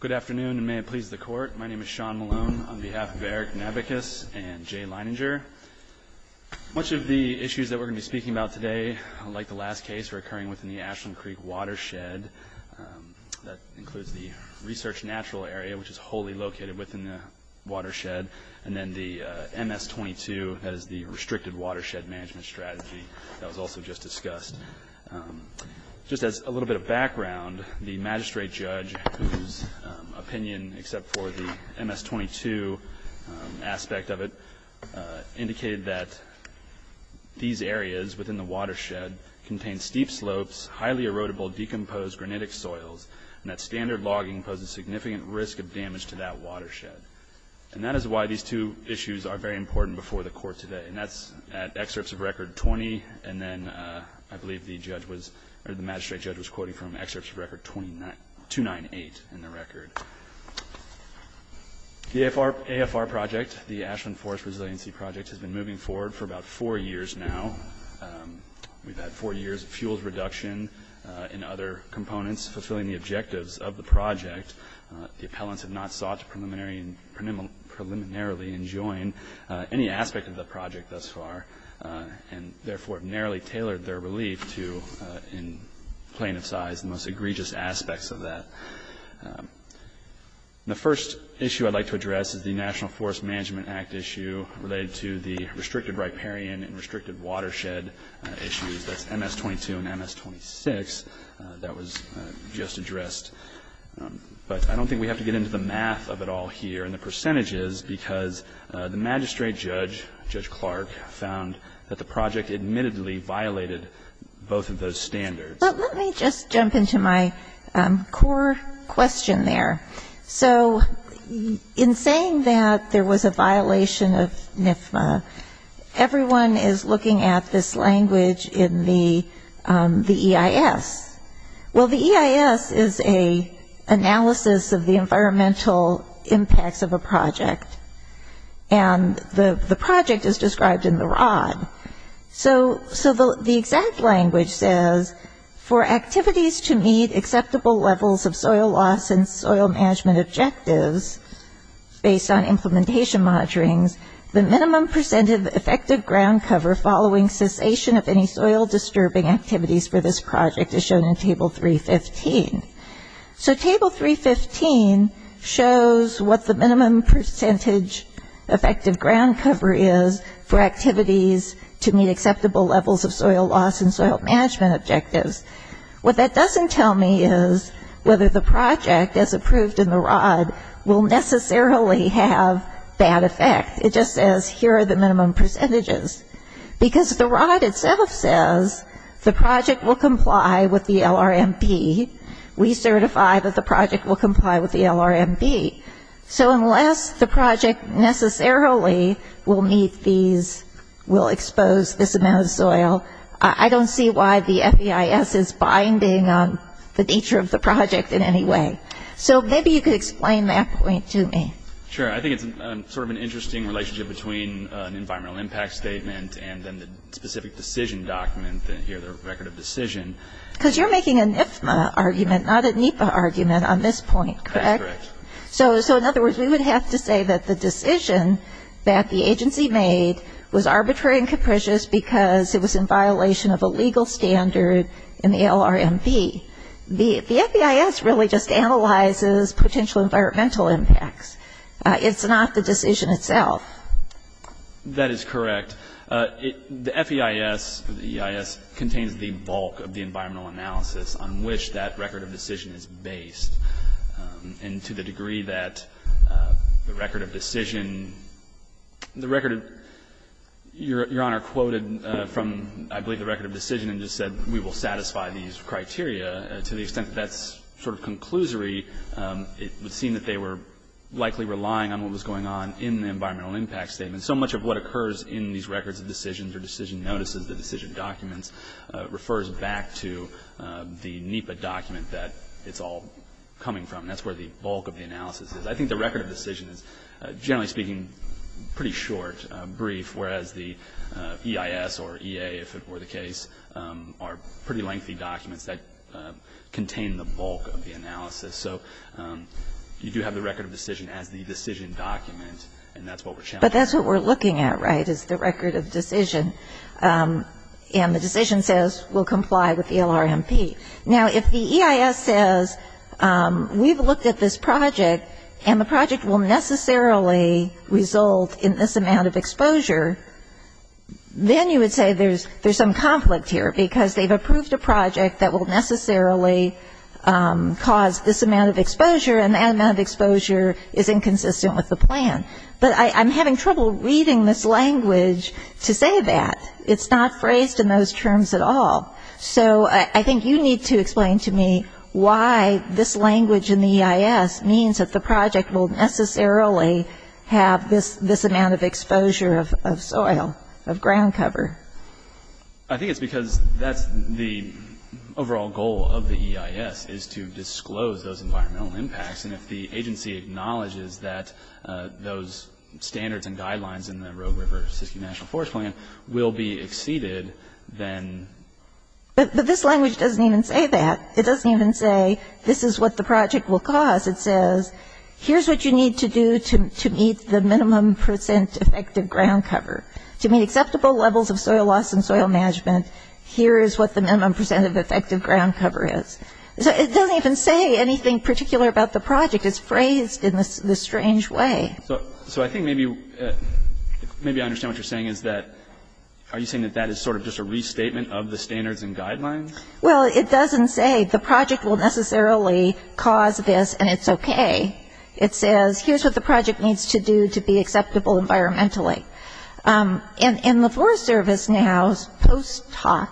Good afternoon and may it please the court. My name is Sean Malone on behalf of Eric Navickas and Jay Leininger. Much of the issues that we're going to be speaking about today, like the last case, are occurring within the Ashland Creek watershed. That includes the research natural area, which is wholly located within the watershed, and then the MS-22, that is the Restricted Watershed Management Strategy that was also just discussed. Just as a little bit of background, the magistrate judge, whose opinion, except for the MS-22 aspect of it, indicated that these areas within the watershed contain steep slopes, highly erodible, decomposed granitic soils, and that standard logging poses significant risk of damage to that watershed. And that is why these two issues are very important before the court today. And that's at excerpts of record 20, and then I believe the magistrate judge was quoting from excerpts of record 298 in the record. The AFR project, the Ashland Forest Resiliency Project, has been moving forward for about four years now. We've had four years of fuels reduction and other components fulfilling the objectives of the project. The appellants have not sought to preliminarily enjoin any aspect of the project thus far, and therefore have narrowly tailored their relief to, in plain of size, the most egregious aspects of that. The first issue I'd like to address is the National Forest Management Act issue related to the restricted riparian and restricted watershed issues, that's MS-22 and MS-26, that was just addressed. But I don't think we have to get into the math of it all here and the percentages, because the magistrate judge, Judge Clark, found that the project admittedly violated both of those standards. But let me just jump into my core question there. So in saying that there was a violation of NFMA, everyone is looking at this language in the EIS. Well, the EIS is an analysis of the environmental impacts of a project, and the project is described in the ROD. So the exact language says, for activities to meet acceptable levels of soil loss and soil management objectives, based on implementation monitoring, the minimum percent of effective ground cover following cessation of any soil-disturbing activities for this project is shown in Table 315. So Table 315 shows what the minimum percentage effective ground cover is for activities to meet acceptable levels of soil loss and soil management objectives. What that doesn't tell me is whether the project, as approved in the ROD, will necessarily have that effect. It just says, here are the minimum percentages. Because the ROD itself says the project will comply with the LRMB. We certify that the project will comply with the LRMB. So unless the project necessarily will meet these, will expose this amount of soil, I don't see why the FEIS is binding on the nature of the project in any way. So maybe you could explain that point to me. Sure. I think it's sort of an interesting relationship between an environmental impact statement and then the specific decision document here, the record of decision. Because you're making a NFMA argument, not a NEPA argument, on this point, correct? Correct. So in other words, we would have to say that the decision that the agency made was arbitrary and capricious because it was in violation of a legal standard in the LRMB. The FEIS really just analyzes potential environmental impacts. It's not the decision itself. That is correct. The FEIS contains the bulk of the environmental analysis on which that record of decision is based. And to the degree that the record of decision, the record of your Honor quoted from, I believe, the record of decision and just said we will satisfy these criteria. To the extent that that's sort of conclusory, it would seem that they were likely relying on what was going on in the environmental impact statement. So much of what occurs in these records of decisions or decision notices, the decision documents, refers back to the NEPA document that it's all coming from. And that's where the bulk of the analysis is. I think the record of decision is, generally speaking, pretty short, brief, whereas the EIS or EA, if it were the case, are pretty lengthy documents that contain the bulk of the analysis. So you do have the record of decision as the decision document, and that's what we're challenging. But that's what we're looking at, right, is the record of decision. And the decision says we'll comply with the LRMP. Now, if the EIS says we've looked at this project, and the project will necessarily result in this amount of exposure, then you would say there's some conflict here, because they've approved a project that will necessarily cause this amount of exposure, and that amount of exposure is inconsistent with the plan. But I'm having trouble reading this language to say that. It's not phrased in those terms at all. So I think you need to explain to me why this language in the EIS means that the project will necessarily have this amount of exposure of soil, of ground cover. I think it's because that's the overall goal of the EIS, is to disclose those environmental impacts. And if the agency acknowledges that those standards and guidelines in the Rogue River Siskiyou National Forest Plan will be exceeded, then ‑‑ But this language doesn't even say that. It doesn't even say this is what the project will cause. It says here's what you need to do to meet the minimum percent effective ground cover. To meet acceptable levels of soil loss and soil management, here is what the minimum percent of effective ground cover is. So it doesn't even say anything particular about the project. It's phrased in this strange way. So I think maybe I understand what you're saying is that ‑‑ are you saying that that is sort of just a restatement of the standards and guidelines? Well, it doesn't say the project will necessarily cause this, and it's okay. It says here's what the project needs to do to be acceptable environmentally. And the Forest Service now, post‑talk,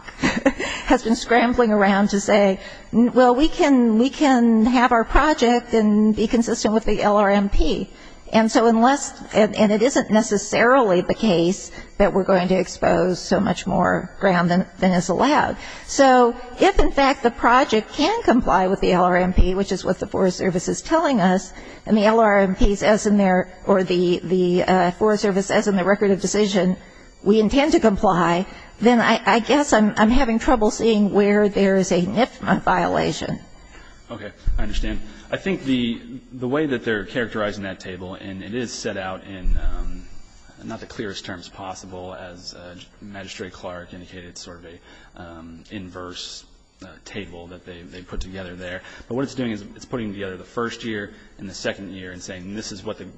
has been scrambling around to say, well, we can have our project and be consistent with the LRMP. And so unless ‑‑ and it isn't necessarily the case that we're going to expose so much more ground than is allowed. So if, in fact, the project can comply with the LRMP, which is what the Forest Service is telling us, and the LRMP says in their ‑‑ or the Forest Service says in the record of decision, we intend to comply, then I guess I'm having trouble seeing where there is a NIFMA violation. Okay. I understand. I think the way that they're characterizing that table, and it is set out in not the clearest terms possible, as Magistrate Clark indicated, sort of an inverse table that they put together there. But what it's doing is it's putting together the first year and the second year and saying this is what the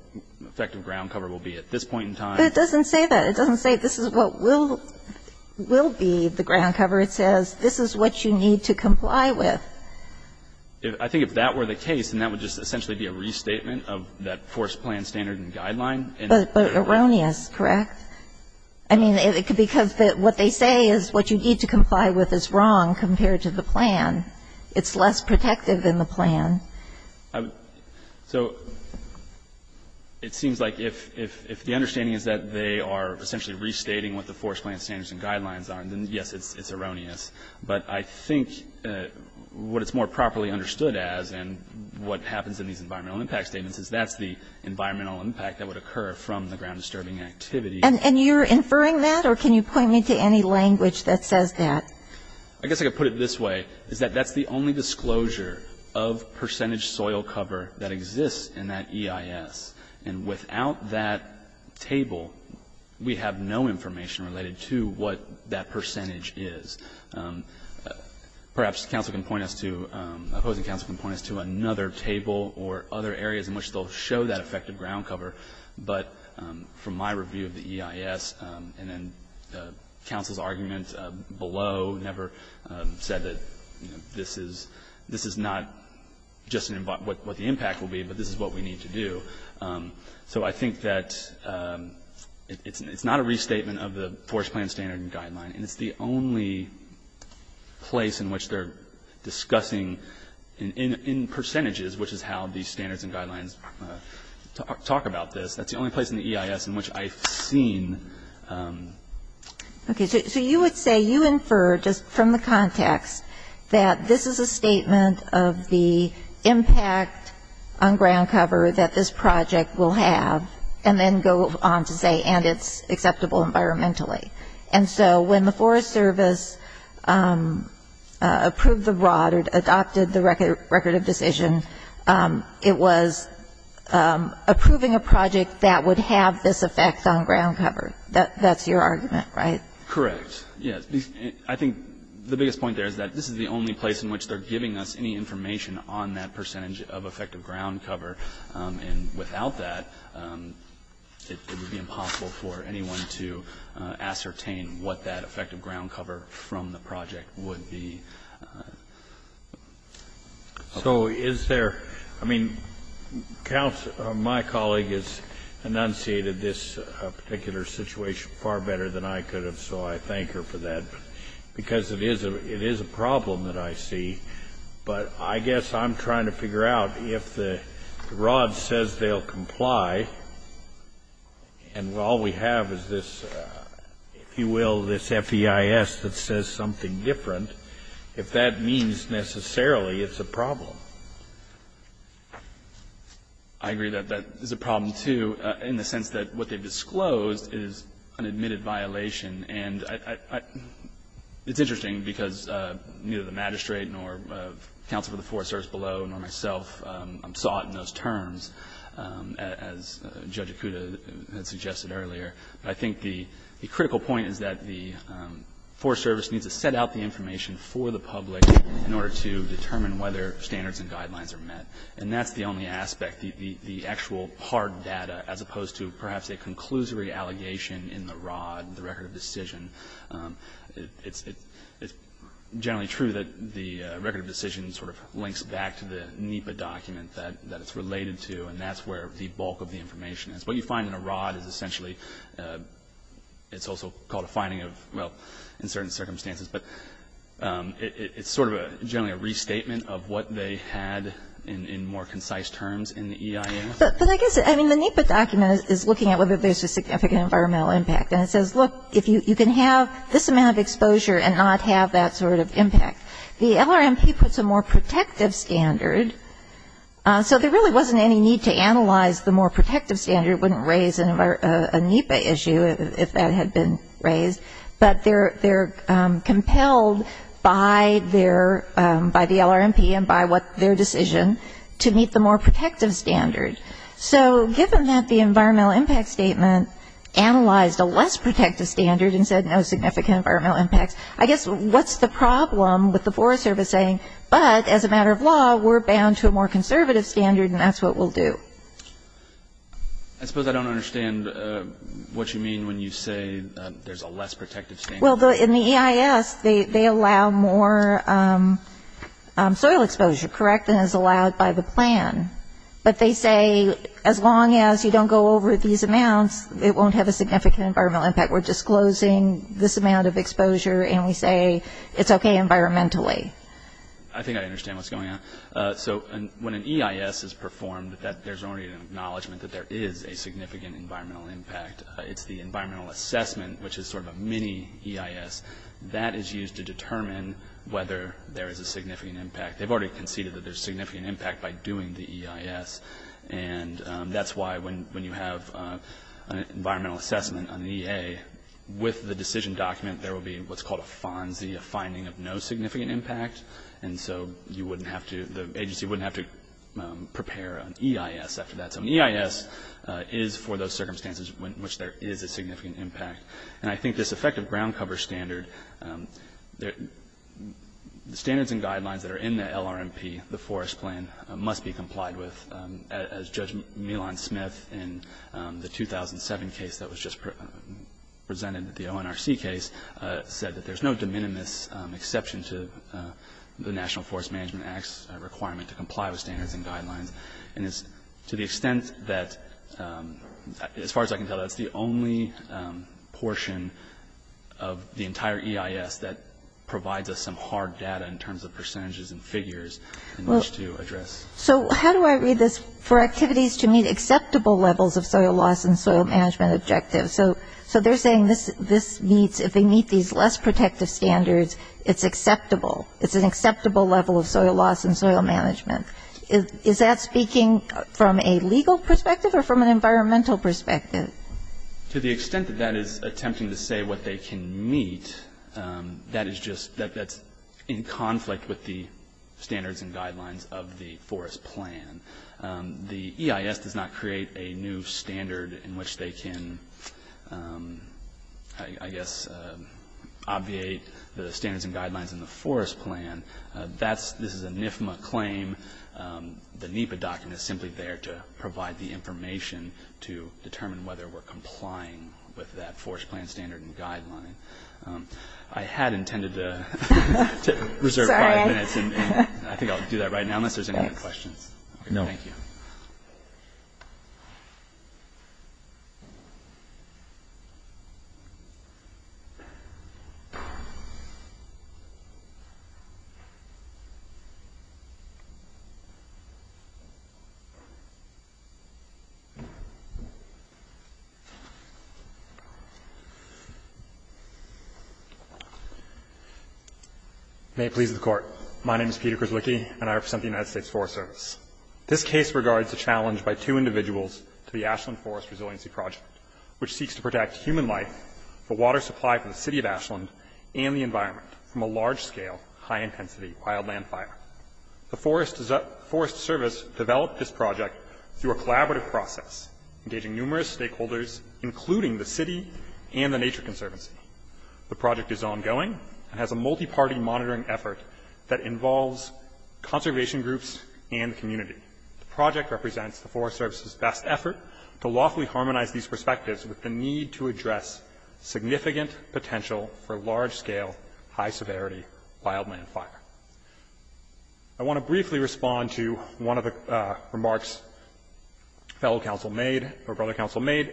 effective ground cover will be at this point in time. But it doesn't say that. It doesn't say this is what will be the ground cover. It says this is what you need to comply with. I think if that were the case, then that would just essentially be a restatement of that Forest Plan standard and guideline. But erroneous, correct? I mean, because what they say is what you need to comply with is wrong compared to the plan. It's less protective than the plan. So it seems like if the understanding is that they are essentially restating what the Forest Plan standards and guidelines are, then, yes, it's erroneous. But I think what it's more properly understood as and what happens in these environmental impact statements is that's the environmental impact that would occur from the ground disturbing activity. And you're inferring that, or can you point me to any language that says that? I guess I could put it this way, is that that's the only disclosure of percentage soil cover that exists in that EIS. And without that table, we have no information related to what that percentage is. Perhaps counsel can point us to, opposing counsel can point us to another table or other areas in which they'll show that effective ground cover. But from my review of the EIS, and then counsel's argument below never said that, you know, this is not just what the impact will be, but this is what we need to do. So I think that it's not a restatement of the Forest Plan standard and guideline. And it's the only place in which they're discussing in percentages, which is how the standards and guidelines talk about this. That's the only place in the EIS in which I've seen. Okay. So you would say you infer just from the context that this is a statement of the impact on ground cover that this project will have, and then go on to say and it's acceptable environmentally. And so when the Forest Service approved the broad or adopted the record of decision, it was approving a project that would have this effect on ground cover. That's your argument, right? Correct. Yes. I think the biggest point there is that this is the only place in which they're giving us any information on that percentage of effective ground cover. And without that, it would be impossible for anyone to ascertain what that effective ground cover from the project would be. So is there, I mean, my colleague has enunciated this particular situation far better than I could have, so I thank her for that. I agree that that is a problem, too, in the sense that what they've disclosed And I don't think it's a violation because it is a problem that I see. But I guess I'm trying to figure out if the ROD says they'll comply, and all we have is this, if you will, this FEIS that says something different, if that means necessarily it's a problem. I agree that that is a problem, too, in the sense that what they've disclosed is an admitted violation. And it's interesting because neither the magistrate nor counsel for the Forest Service below nor myself saw it in those terms, as Judge Akuta had suggested earlier. But I think the critical point is that the Forest Service needs to set out the information for the public in order to determine whether standards and guidelines are met. And that's the only aspect, the actual hard data, as opposed to perhaps a conclusory allegation in the ROD, the record of decision. It's generally true that the record of decision sort of links back to the NEPA document that it's related to, and that's where the bulk of the information is. What you find in a ROD is essentially, it's also called a finding of, well, in certain circumstances, but it's sort of generally a restatement of what they had in more concise terms in the EIA. But I guess, I mean, the NEPA document is looking at whether there's a significant environmental impact. And it says, look, if you can have this amount of exposure and not have that sort of impact. The LRMP puts a more protective standard, so there really wasn't any need to analyze the more protective standard. It wouldn't raise a NEPA issue if that had been raised. But they're compelled by their, by the LRMP and by their decision to meet the more protective standard. So given that the environmental impact statement analyzed a less protective standard and said no significant environmental impacts, I guess what's the problem with the Forest Service saying, but as a matter of law, we're bound to a more conservative standard and that's what we'll do? I suppose I don't understand what you mean when you say there's a less protective standard. Well, in the EIS, they allow more soil exposure, correct, than is allowed by the plan. But they say as long as you don't go over these amounts, it won't have a significant environmental impact. We're disclosing this amount of exposure and we say it's okay environmentally. I think I understand what's going on. So when an EIS is performed, there's already an acknowledgement that there is a significant environmental impact. It's the environmental assessment, which is sort of a mini-EIS, that is used to determine whether there is a significant impact. They've already conceded that there's significant impact by doing the EIS. And that's why when you have an environmental assessment on the EA, with the decision document there will be what's called a FONSI, a finding of no significant impact. And so you wouldn't have to, the agency wouldn't have to prepare an EIS after that. So an EIS is for those circumstances in which there is a significant impact. And I think this effective ground cover standard, the standards and guidelines that are in the LRMP, the forest plan, must be complied with. As Judge Milan-Smith in the 2007 case that was just presented, the ONRC case, said that there's no de minimis exception to the National Forest Management Act's requirement to comply with standards and guidelines. And it's to the extent that, as far as I can tell, that's the only portion of the entire EIS that provides us some hard data in terms of percentages and figures in which to address. So how do I read this? For activities to meet acceptable levels of soil loss and soil management objectives. So they're saying this meets, if they meet these less protective standards, it's acceptable. It's an acceptable level of soil loss and soil management. Is that speaking from a legal perspective or from an environmental perspective? To the extent that that is attempting to say what they can meet, that is just, that's in conflict with the standards and guidelines of the forest plan. The EIS does not create a new standard in which they can, I guess, obviate the standards and guidelines in the forest plan. This is a NIFMA claim. The NEPA document is simply there to provide the information to determine whether we're complying with that forest plan standard and guideline. I had intended to reserve five minutes. I think I'll do that right now unless there's any other questions. No. Thank you. May it please the Court. My name is Peter Kraswicki, and I represent the United States Forest Service. This case regards a challenge by two individuals to the Ashland Forest Resiliency Project, which seeks to protect human life, the water supply for the city of Ashland, and the environment from a large-scale, high-intensity wildland fire. The Forest Service developed this project through a collaborative process, engaging numerous stakeholders, including the city and the Nature Conservancy. The project is ongoing and has a multiparty monitoring effort that involves conservation groups and the community. The project represents the Forest Service's best effort to lawfully harmonize these perspectives with the need to address significant potential for large-scale, high-severity wildland fire. I want to briefly respond to one of the remarks fellow counsel made or brother counsel made.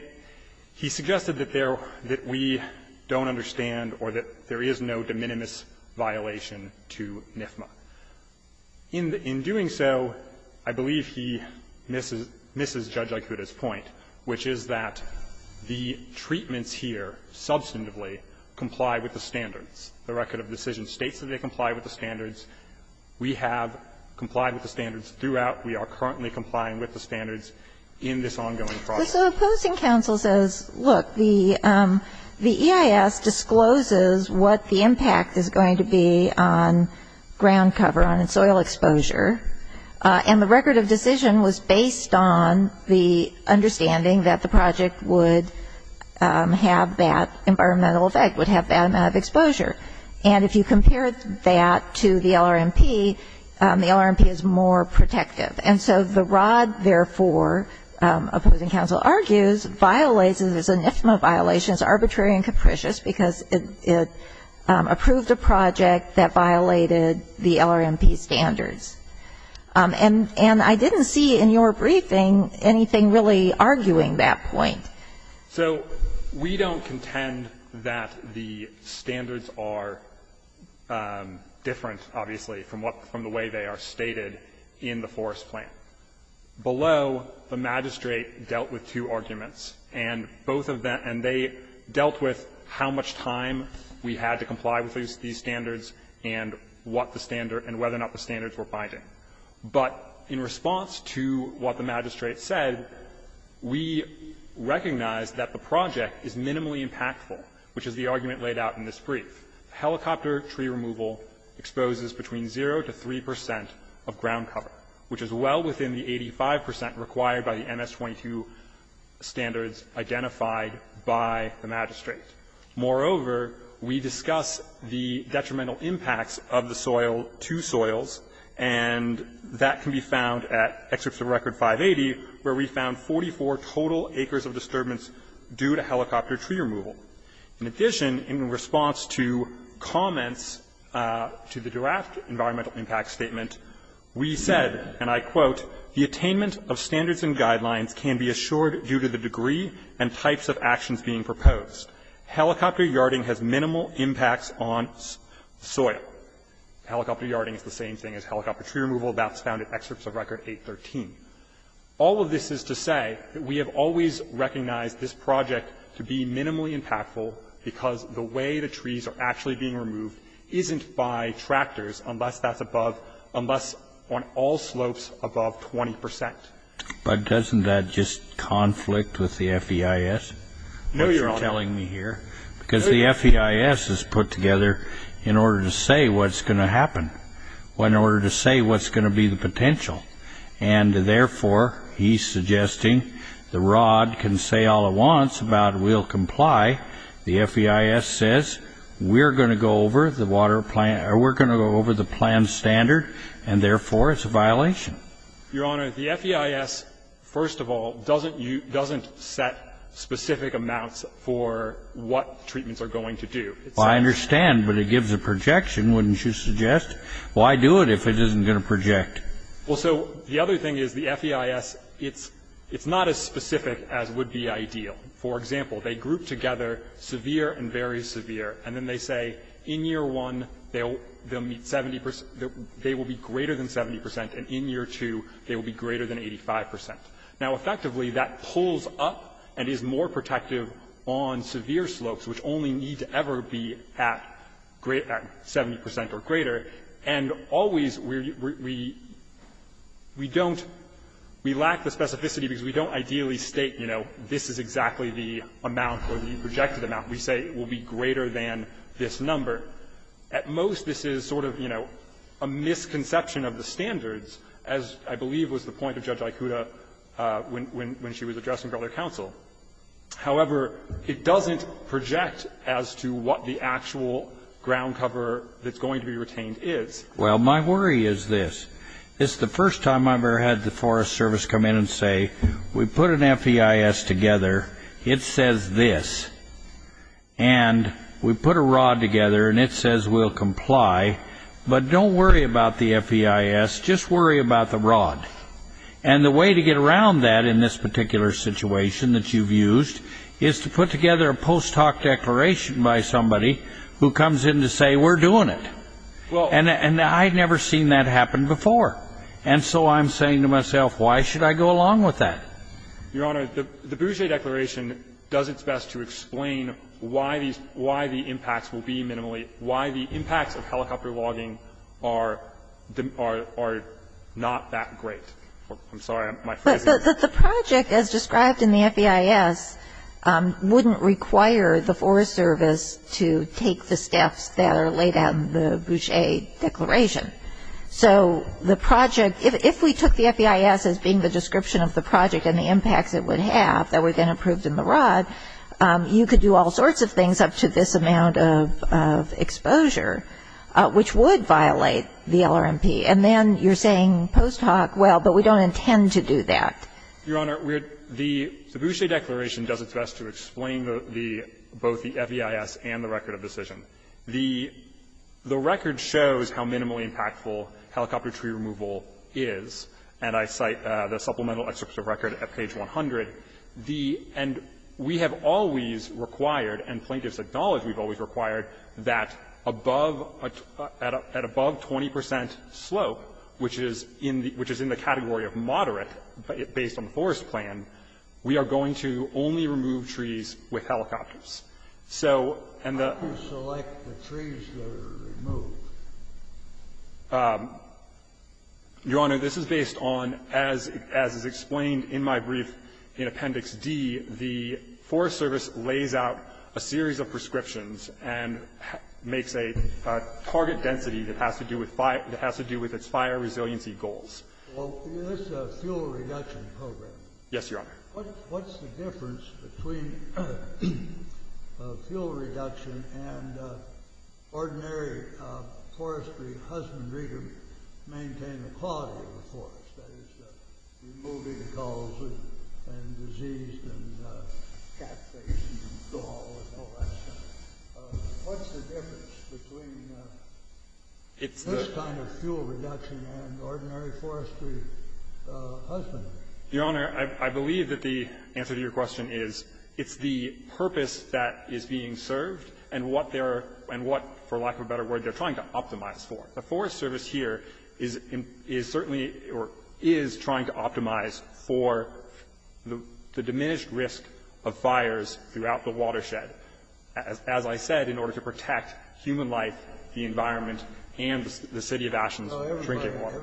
He suggested that there we don't understand or that there is no de minimis violation to NFMA. In doing so, I believe he misses Judge Aikuda's point, which is that the treatments here substantively comply with the standards. The record of decision states that they comply with the standards. We have complied with the standards throughout. We are currently complying with the standards in this ongoing process. So opposing counsel says, look, the EIS discloses what the impact is going to be on ground cover, on its soil exposure, and the record of decision was based on the understanding that the project would have that environmental effect, would have that amount of exposure. And if you compare that to the LRMP, the LRMP is more protective. And so the ROD, therefore, opposing counsel argues, violates NFMA violations, arbitrary and capricious, because it approved a project that violated the LRMP standards. And I didn't see in your briefing anything really arguing that point. So we don't contend that the standards are different, obviously, from what the way they are stated in the Forest Plan. Below, the magistrate dealt with two arguments. And both of them, and they dealt with how much time we had to comply with these standards and what the standard and whether or not the standards were binding. But in response to what the magistrate said, we recognize that the project is minimally impactful, which is the argument laid out in this brief. Helicopter tree removal exposes between 0 to 3 percent of ground cover, which is well within the 85 percent required by the MS-22 standards identified by the magistrate. Moreover, we discuss the detrimental impacts of the soil to soils, and that can be found at Excerpts of Record 580, where we found 44 total acres of disturbance due to helicopter tree removal. In addition, in response to comments to the draft environmental impact statement, we said, and I quote, the attainment of standards and guidelines can be assured due to the degree and types of actions being proposed. Helicopter yarding has minimal impacts on soil. Helicopter yarding is the same thing as helicopter tree removal. That's found in Excerpts of Record 813. All of this is to say that we have always recognized this project to be minimally impactful because the way the trees are actually being removed isn't by tractors unless that's above, unless on all slopes above 20 percent. But doesn't that just conflict with the FEIS, what you're telling me here? No, Your Honor. Because the FEIS is put together in order to say what's going to happen, in order to say what's going to be the potential. And, therefore, he's suggesting the ROD can say all it wants about we'll comply. The FEIS says we're going to go over the water plan or we're going to go over the plan standard, and, therefore, it's a violation. Your Honor, the FEIS, first of all, doesn't set specific amounts for what treatments are going to do. Well, I understand, but it gives a projection, wouldn't you suggest? Why do it if it isn't going to project? Well, so the other thing is the FEIS, it's not as specific as would be ideal. For example, they group together severe and very severe, and then they say in year one they'll meet 70 percent, they will be greater than 70 percent, and in year two they will be greater than 85 percent. Now, effectively, that pulls up and is more protective on severe slopes, which only need to ever be at 70 percent or greater. And always we don't, we lack the specificity because we don't ideally state, you know, this is exactly the amount or the projected amount. We say it will be greater than this number. At most, this is sort of, you know, a misconception of the standards, as I believe was the point of Judge Aikuda when she was addressing Brother Counsel. However, it doesn't project as to what the actual ground cover that's going to be retained is. Well, my worry is this. It's the first time I've ever had the Forest Service come in and say, we put an FEIS together, it says this, and we put a rod together and it says we'll comply, but don't worry about the FEIS, just worry about the rod. And the way to get around that in this particular situation that you've used is to put together a post hoc declaration by somebody who comes in to say, we're doing it. And I've never seen that happen before. And so I'm saying to myself, why should I go along with that? Your Honor, the Bougier Declaration does its best to explain why the impacts will be minimally, why the impacts of helicopter logging are not that great. I'm sorry, my phrasing. But the project as described in the FEIS wouldn't require the Forest Service to take the steps that are laid out in the Bougier Declaration. So the project, if we took the FEIS as being the description of the project and the impacts it would have that were then approved in the rod, you could do all sorts of things up to this amount of exposure, which would violate the LRMP. And then you're saying post hoc, well, but we don't intend to do that. Your Honor, the Bougier Declaration does its best to explain the, both the FEIS and the record of decision. The record shows how minimally impactful helicopter tree removal is. And I cite the supplemental excerpt of record at page 100. The end, we have always required, and plaintiffs acknowledge we've always required, that above, at above 20 percent slope, which is in the category of moderate based on the forest plan, we are going to only remove trees with helicopters. So, and the --- How do you select the trees that are removed? Your Honor, this is based on, as is explained in my brief in Appendix D, the Forest Service lays out a series of prescriptions and makes a target density that has to do with fire, that has to do with its fire resiliency goals. Well, this is a fuel reduction program. Yes, Your Honor. What's the difference between fuel reduction and ordinary forestry husbandry to maintain the quality of the forest? That is, removing gulls and diseased and catfish and gulls and all that stuff. What's the difference between this kind of fuel reduction and ordinary forestry husbandry? Your Honor, I believe that the answer to your question is, it's the purpose that is being served and what they're, and what, for lack of a better word, they're trying to optimize for. The Forest Service here is certainly or is trying to optimize for the diminished risk of fires throughout the watershed, as I said, in order to protect human life, the environment, and the City of Ashen's trinket water.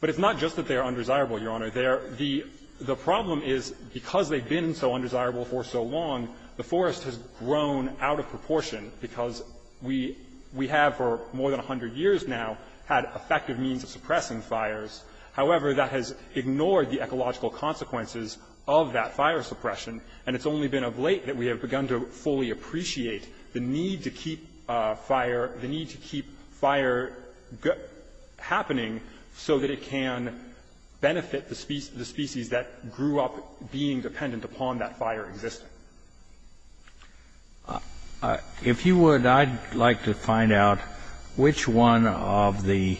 But it's not just that they are undesirable, Your Honor. They are the – the problem is because they've been so undesirable for so long, the forest has grown out of proportion because we have for more than 100 years now had effective means of suppressing fires. However, that has ignored the ecological consequences of that fire suppression, and it's only been of late that we have begun to fully appreciate the need to keep fire, the need to keep fire happening so that it can benefit the species that grew up being dependent upon that fire existing. If you would, I'd like to find out which one of the,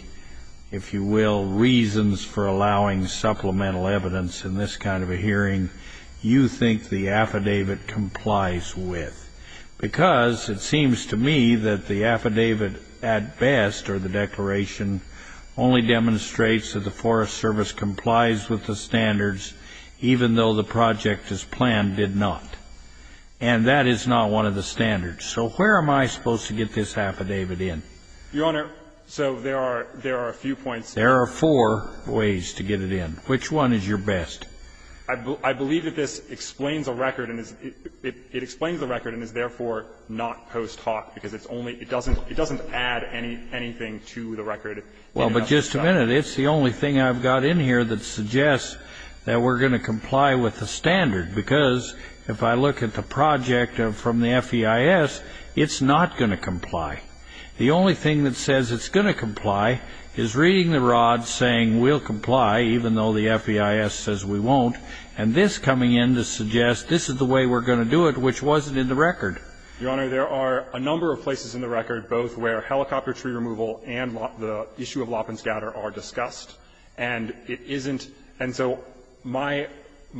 if you will, reasons for allowing supplemental evidence in this kind of a hearing you think the affidavit complies with, because it seems to me that the affidavit at best or the declaration only demonstrates that the Forest Service complies with the standards, even though the project as planned did not. And that is not one of the standards. So where am I supposed to get this affidavit in? Your Honor, so there are a few points. There are four ways to get it in. Which one is your best? I believe that this explains the record and is therefore not post hoc, because it doesn't add anything to the record. Well, but just a minute. It's the only thing I've got in here that suggests that we're going to comply with the standard, because if I look at the project from the FEIS, it's not going to comply. The only thing that says it's going to comply is reading the rod saying we'll comply, even though the FEIS says we won't. And this coming in to suggest this is the way we're going to do it, which wasn't in the record. Your Honor, there are a number of places in the record both where helicopter tree removal and the issue of lop and scatter are discussed. And it isn't – and so my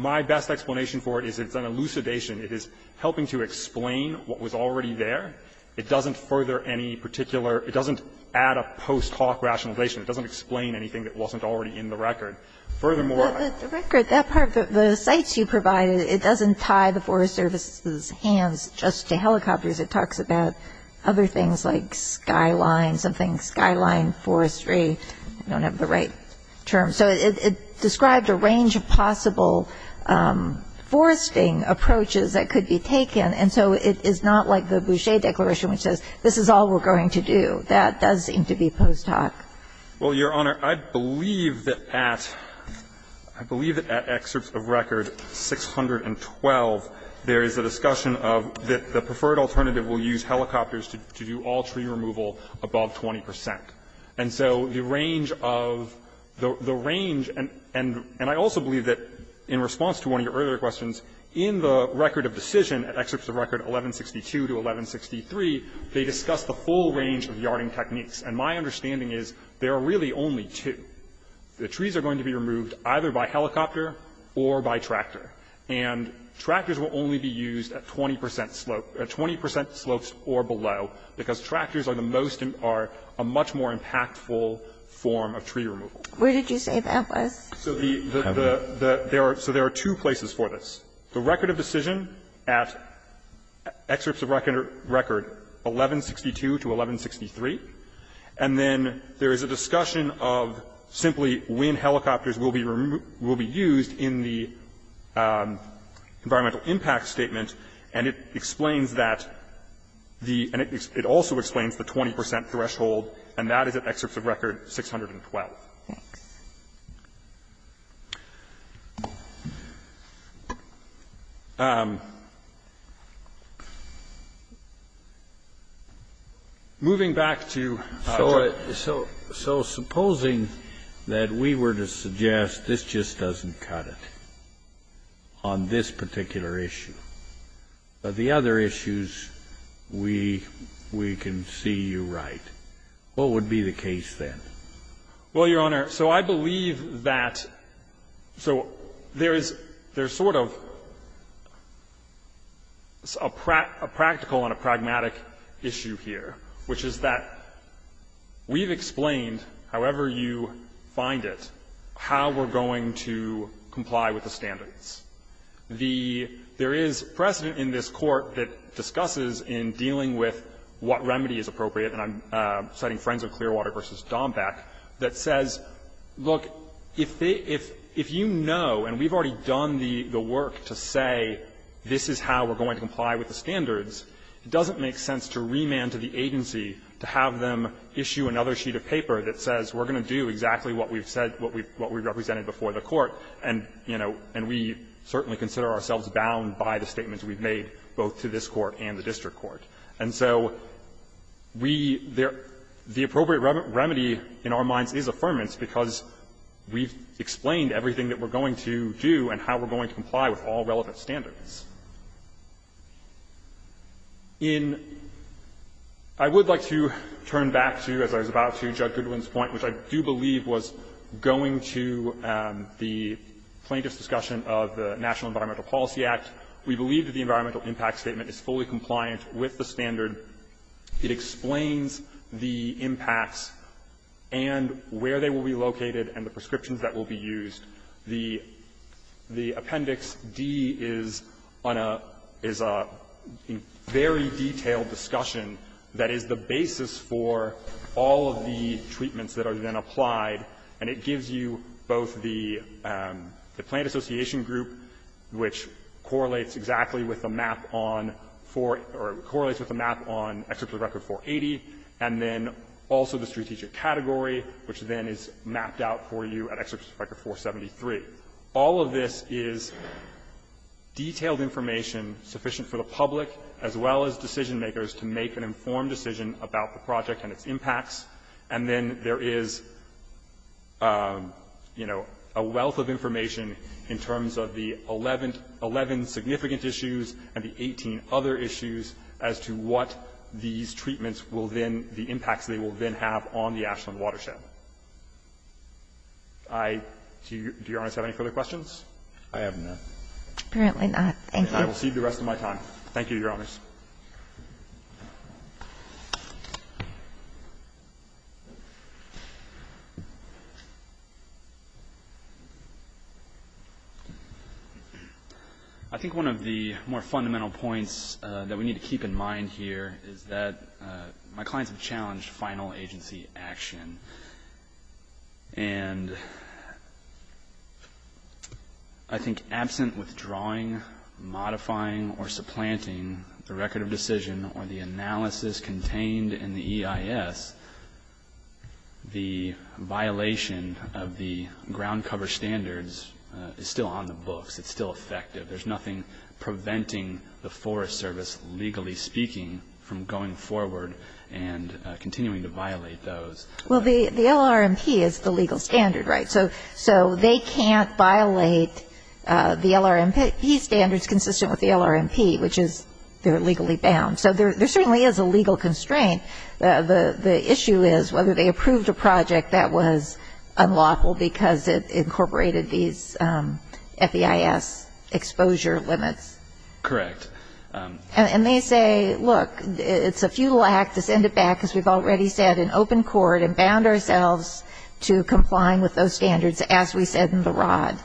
best explanation for it is it's an elucidation. It is helping to explain what was already there. It doesn't further any particular – it doesn't add a post hoc rationalization. It doesn't explain anything that wasn't already in the record. Furthermore – But the record, that part, the sites you provided, it doesn't tie the Forest Service's hands just to helicopters. It talks about other things like skyline, something skyline forestry. I don't have the right terms. So it described a range of possible foresting approaches that could be taken. And so it is not like the Boucher Declaration, which says this is all we're going That does seem to be post hoc. Well, Your Honor, I believe that at – I believe that at excerpts of record 612, there is a discussion of that the preferred alternative will use helicopters to do all tree removal above 20 percent. And so the range of – the range – and I also believe that in response to one of your earlier questions, in the record of decision, excerpts of record 1162 to 1163, they discuss the full range of yarding techniques. And my understanding is there are really only two. The trees are going to be removed either by helicopter or by tractor. And tractors will only be used at 20 percent slope – at 20 percent slopes or below, because tractors are the most – are a much more impactful form of tree removal. Where did you say that was? So the – so there are two places for this. The record of decision at excerpts of record 1162 to 1163, and then there is a discussion of simply when helicopters will be removed – will be used in the environmental impact statement, and it explains that the – and it also explains the 20 percent threshold, and that is at excerpts of record 612. Thanks. Moving back to – So – so supposing that we were to suggest this just doesn't cut it on this particular issue, but the other issues we – we can see you right. What would be the case then? Well, Your Honor, so I believe that – so there is – there's sort of a practical and a pragmatic issue here, which is that we've explained, however you find it, how we're going to comply with the standards. The – there is precedent in this Court that discusses in dealing with what remedy is appropriate, and I'm citing Friends of Clearwater v. Dombeck, that says, look, if they – if you know, and we've already done the work to say this is how we're going to comply with the standards, it doesn't make sense to remand to the agency to have them issue another sheet of paper that says we're going to do exactly what we've said – what we've represented before the Court, and, you know, and we certainly don't want to consider ourselves bound by the statements we've made both to this Court and the district court. And so we – the appropriate remedy in our minds is affirmance because we've explained everything that we're going to do and how we're going to comply with all relevant standards. In – I would like to turn back to, as I was about to, Judge Goodwin's point, which I do believe was going to the plaintiff's discussion of the National Environmental Policy Act. We believe that the environmental impact statement is fully compliant with the standard. It explains the impacts and where they will be located and the prescriptions that will be used. The – the Appendix D is on a – is a very detailed discussion that is the basis for all of the treatments that are then applied. And it gives you both the – the Plaintiff's Association group, which correlates exactly with the map on 4 – or correlates with the map on Executive Record 480, and then also the strategic category, which then is mapped out for you at Executive Record 473. All of this is detailed information sufficient for the public as well as decision makers on the project and its impacts. And then there is, you know, a wealth of information in terms of the 11 – 11 significant issues and the 18 other issues as to what these treatments will then – the impacts they will then have on the Ashland watershed. I – do Your Honor have any further questions? I have none. Apparently not. Thank you. I will cede the rest of my time. Thank you, Your Honors. I think one of the more fundamental points that we need to keep in mind here is that my clients have challenged final agency action. And I think absent withdrawing, modifying, or supplanting the record of decision or the analysis contained in the EIS, the violation of the ground cover standards is still on the books. It's still effective. There's nothing preventing the Forest Service, legally speaking, from going forward and continuing to violate those. Well, the LRMP is the legal standard, right? So they can't violate the LRMP standards consistent with the LRMP, which is they're legally bound. So there certainly is a legal constraint. The issue is whether they approved a project that was unlawful because it incorporated these FEIS exposure limits. Correct. And they say, look, it's a futile act. We have to send it back, as we've already said, in open court and bound ourselves to complying with those standards as we said in the Rod.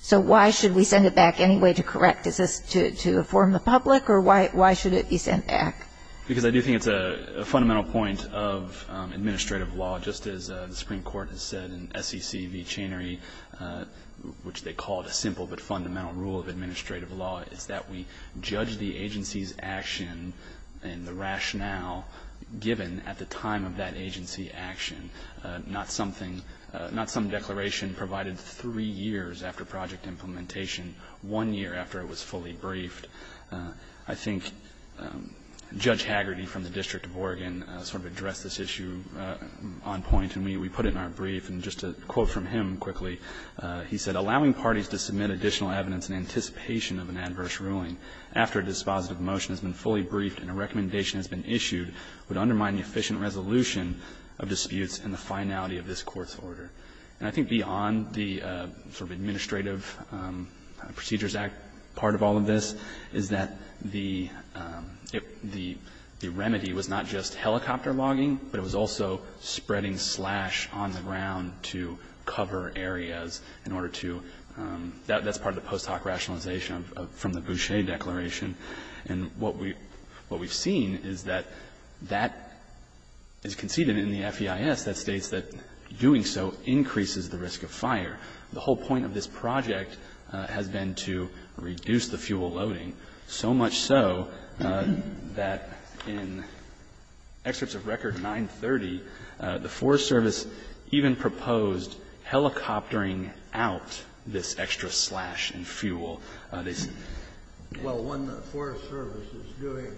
So why should we send it back anyway to correct? Is this to inform the public? Or why should it be sent back? Because I do think it's a fundamental point of administrative law, just as the Supreme Court has said in SEC v. Channery, which they call it a simple but fundamental rule of administrative law, is that we judge the agency's action and the rationale given at the time of that agency action, not something, not some declaration provided three years after project implementation, one year after it was fully briefed. I think Judge Hagerty from the District of Oregon sort of addressed this issue on point, and we put it in our brief. And just a quote from him quickly. He said, "...allowing parties to submit additional evidence in anticipation of an adverse ruling after a dispositive motion has been fully briefed and a recommendation has been issued would undermine the efficient resolution of disputes and the finality of this court's order." And I think beyond the sort of administrative procedures act part of all of this is that the remedy was not just helicopter logging, but it was also spreading slash on the ground to cover areas in order to do that. That's part of the post hoc rationalization from the Boucher Declaration. And what we've seen is that that is conceded in the FEIS that states that doing so increases the risk of fire. The whole point of this project has been to reduce the fuel loading, so much so that in excerpts of Record 930, the Forest Service even proposed helicoptering out this extra slash in fuel. Well, when the Forest Service is doing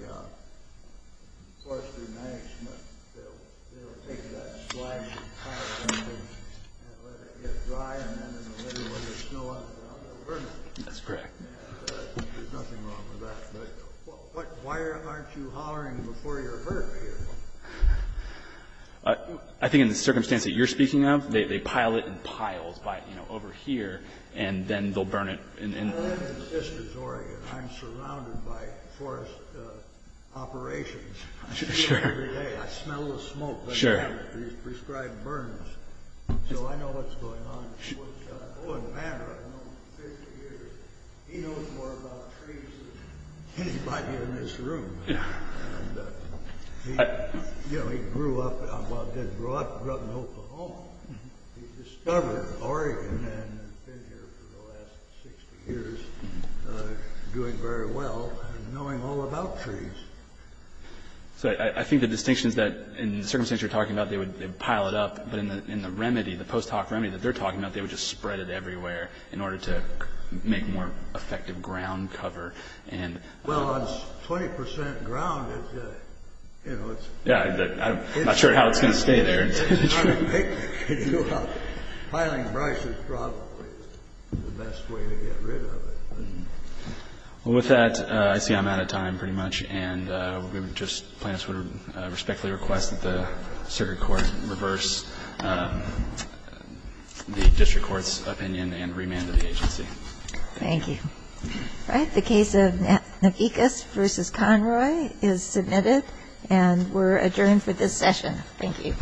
forestry management, they'll take that slash and pile it up and let it get dry, and then in the winter when there's snow on it, they'll burn it. That's correct. There's nothing wrong with that. Why aren't you hollering before you're hurt? I think in the circumstance that you're speaking of, they pile it in piles over here, and then they'll burn it. Well, I'm in Sisters, Oregon. I'm surrounded by forest operations. I see them every day. I smell the smoke. Sure. These prescribed burns. So I know what's going on. Owen Banner, I've known him 50 years. He knows more about trees than anybody in this room. Yeah. He grew up in Oklahoma. He discovered Oregon and has been here for the last 60 years doing very well and knowing all about trees. So I think the distinction is that in the circumstance you're talking about, they pile it up, but in the remedy, the post-hoc remedy that they're talking about, they would just spread it everywhere in order to make more effective ground cover. Well, it's 20 percent ground. I'm not sure how it's going to stay there. Piling brush is probably the best way to get rid of it. Well, with that, I see I'm out of time pretty much, and we would just respectfully request that the circuit court reverse the district court's opinion and remand to the agency. Thank you. All right. The case of Nagikis v. Conroy is submitted, and we're adjourned for this session. Thank you.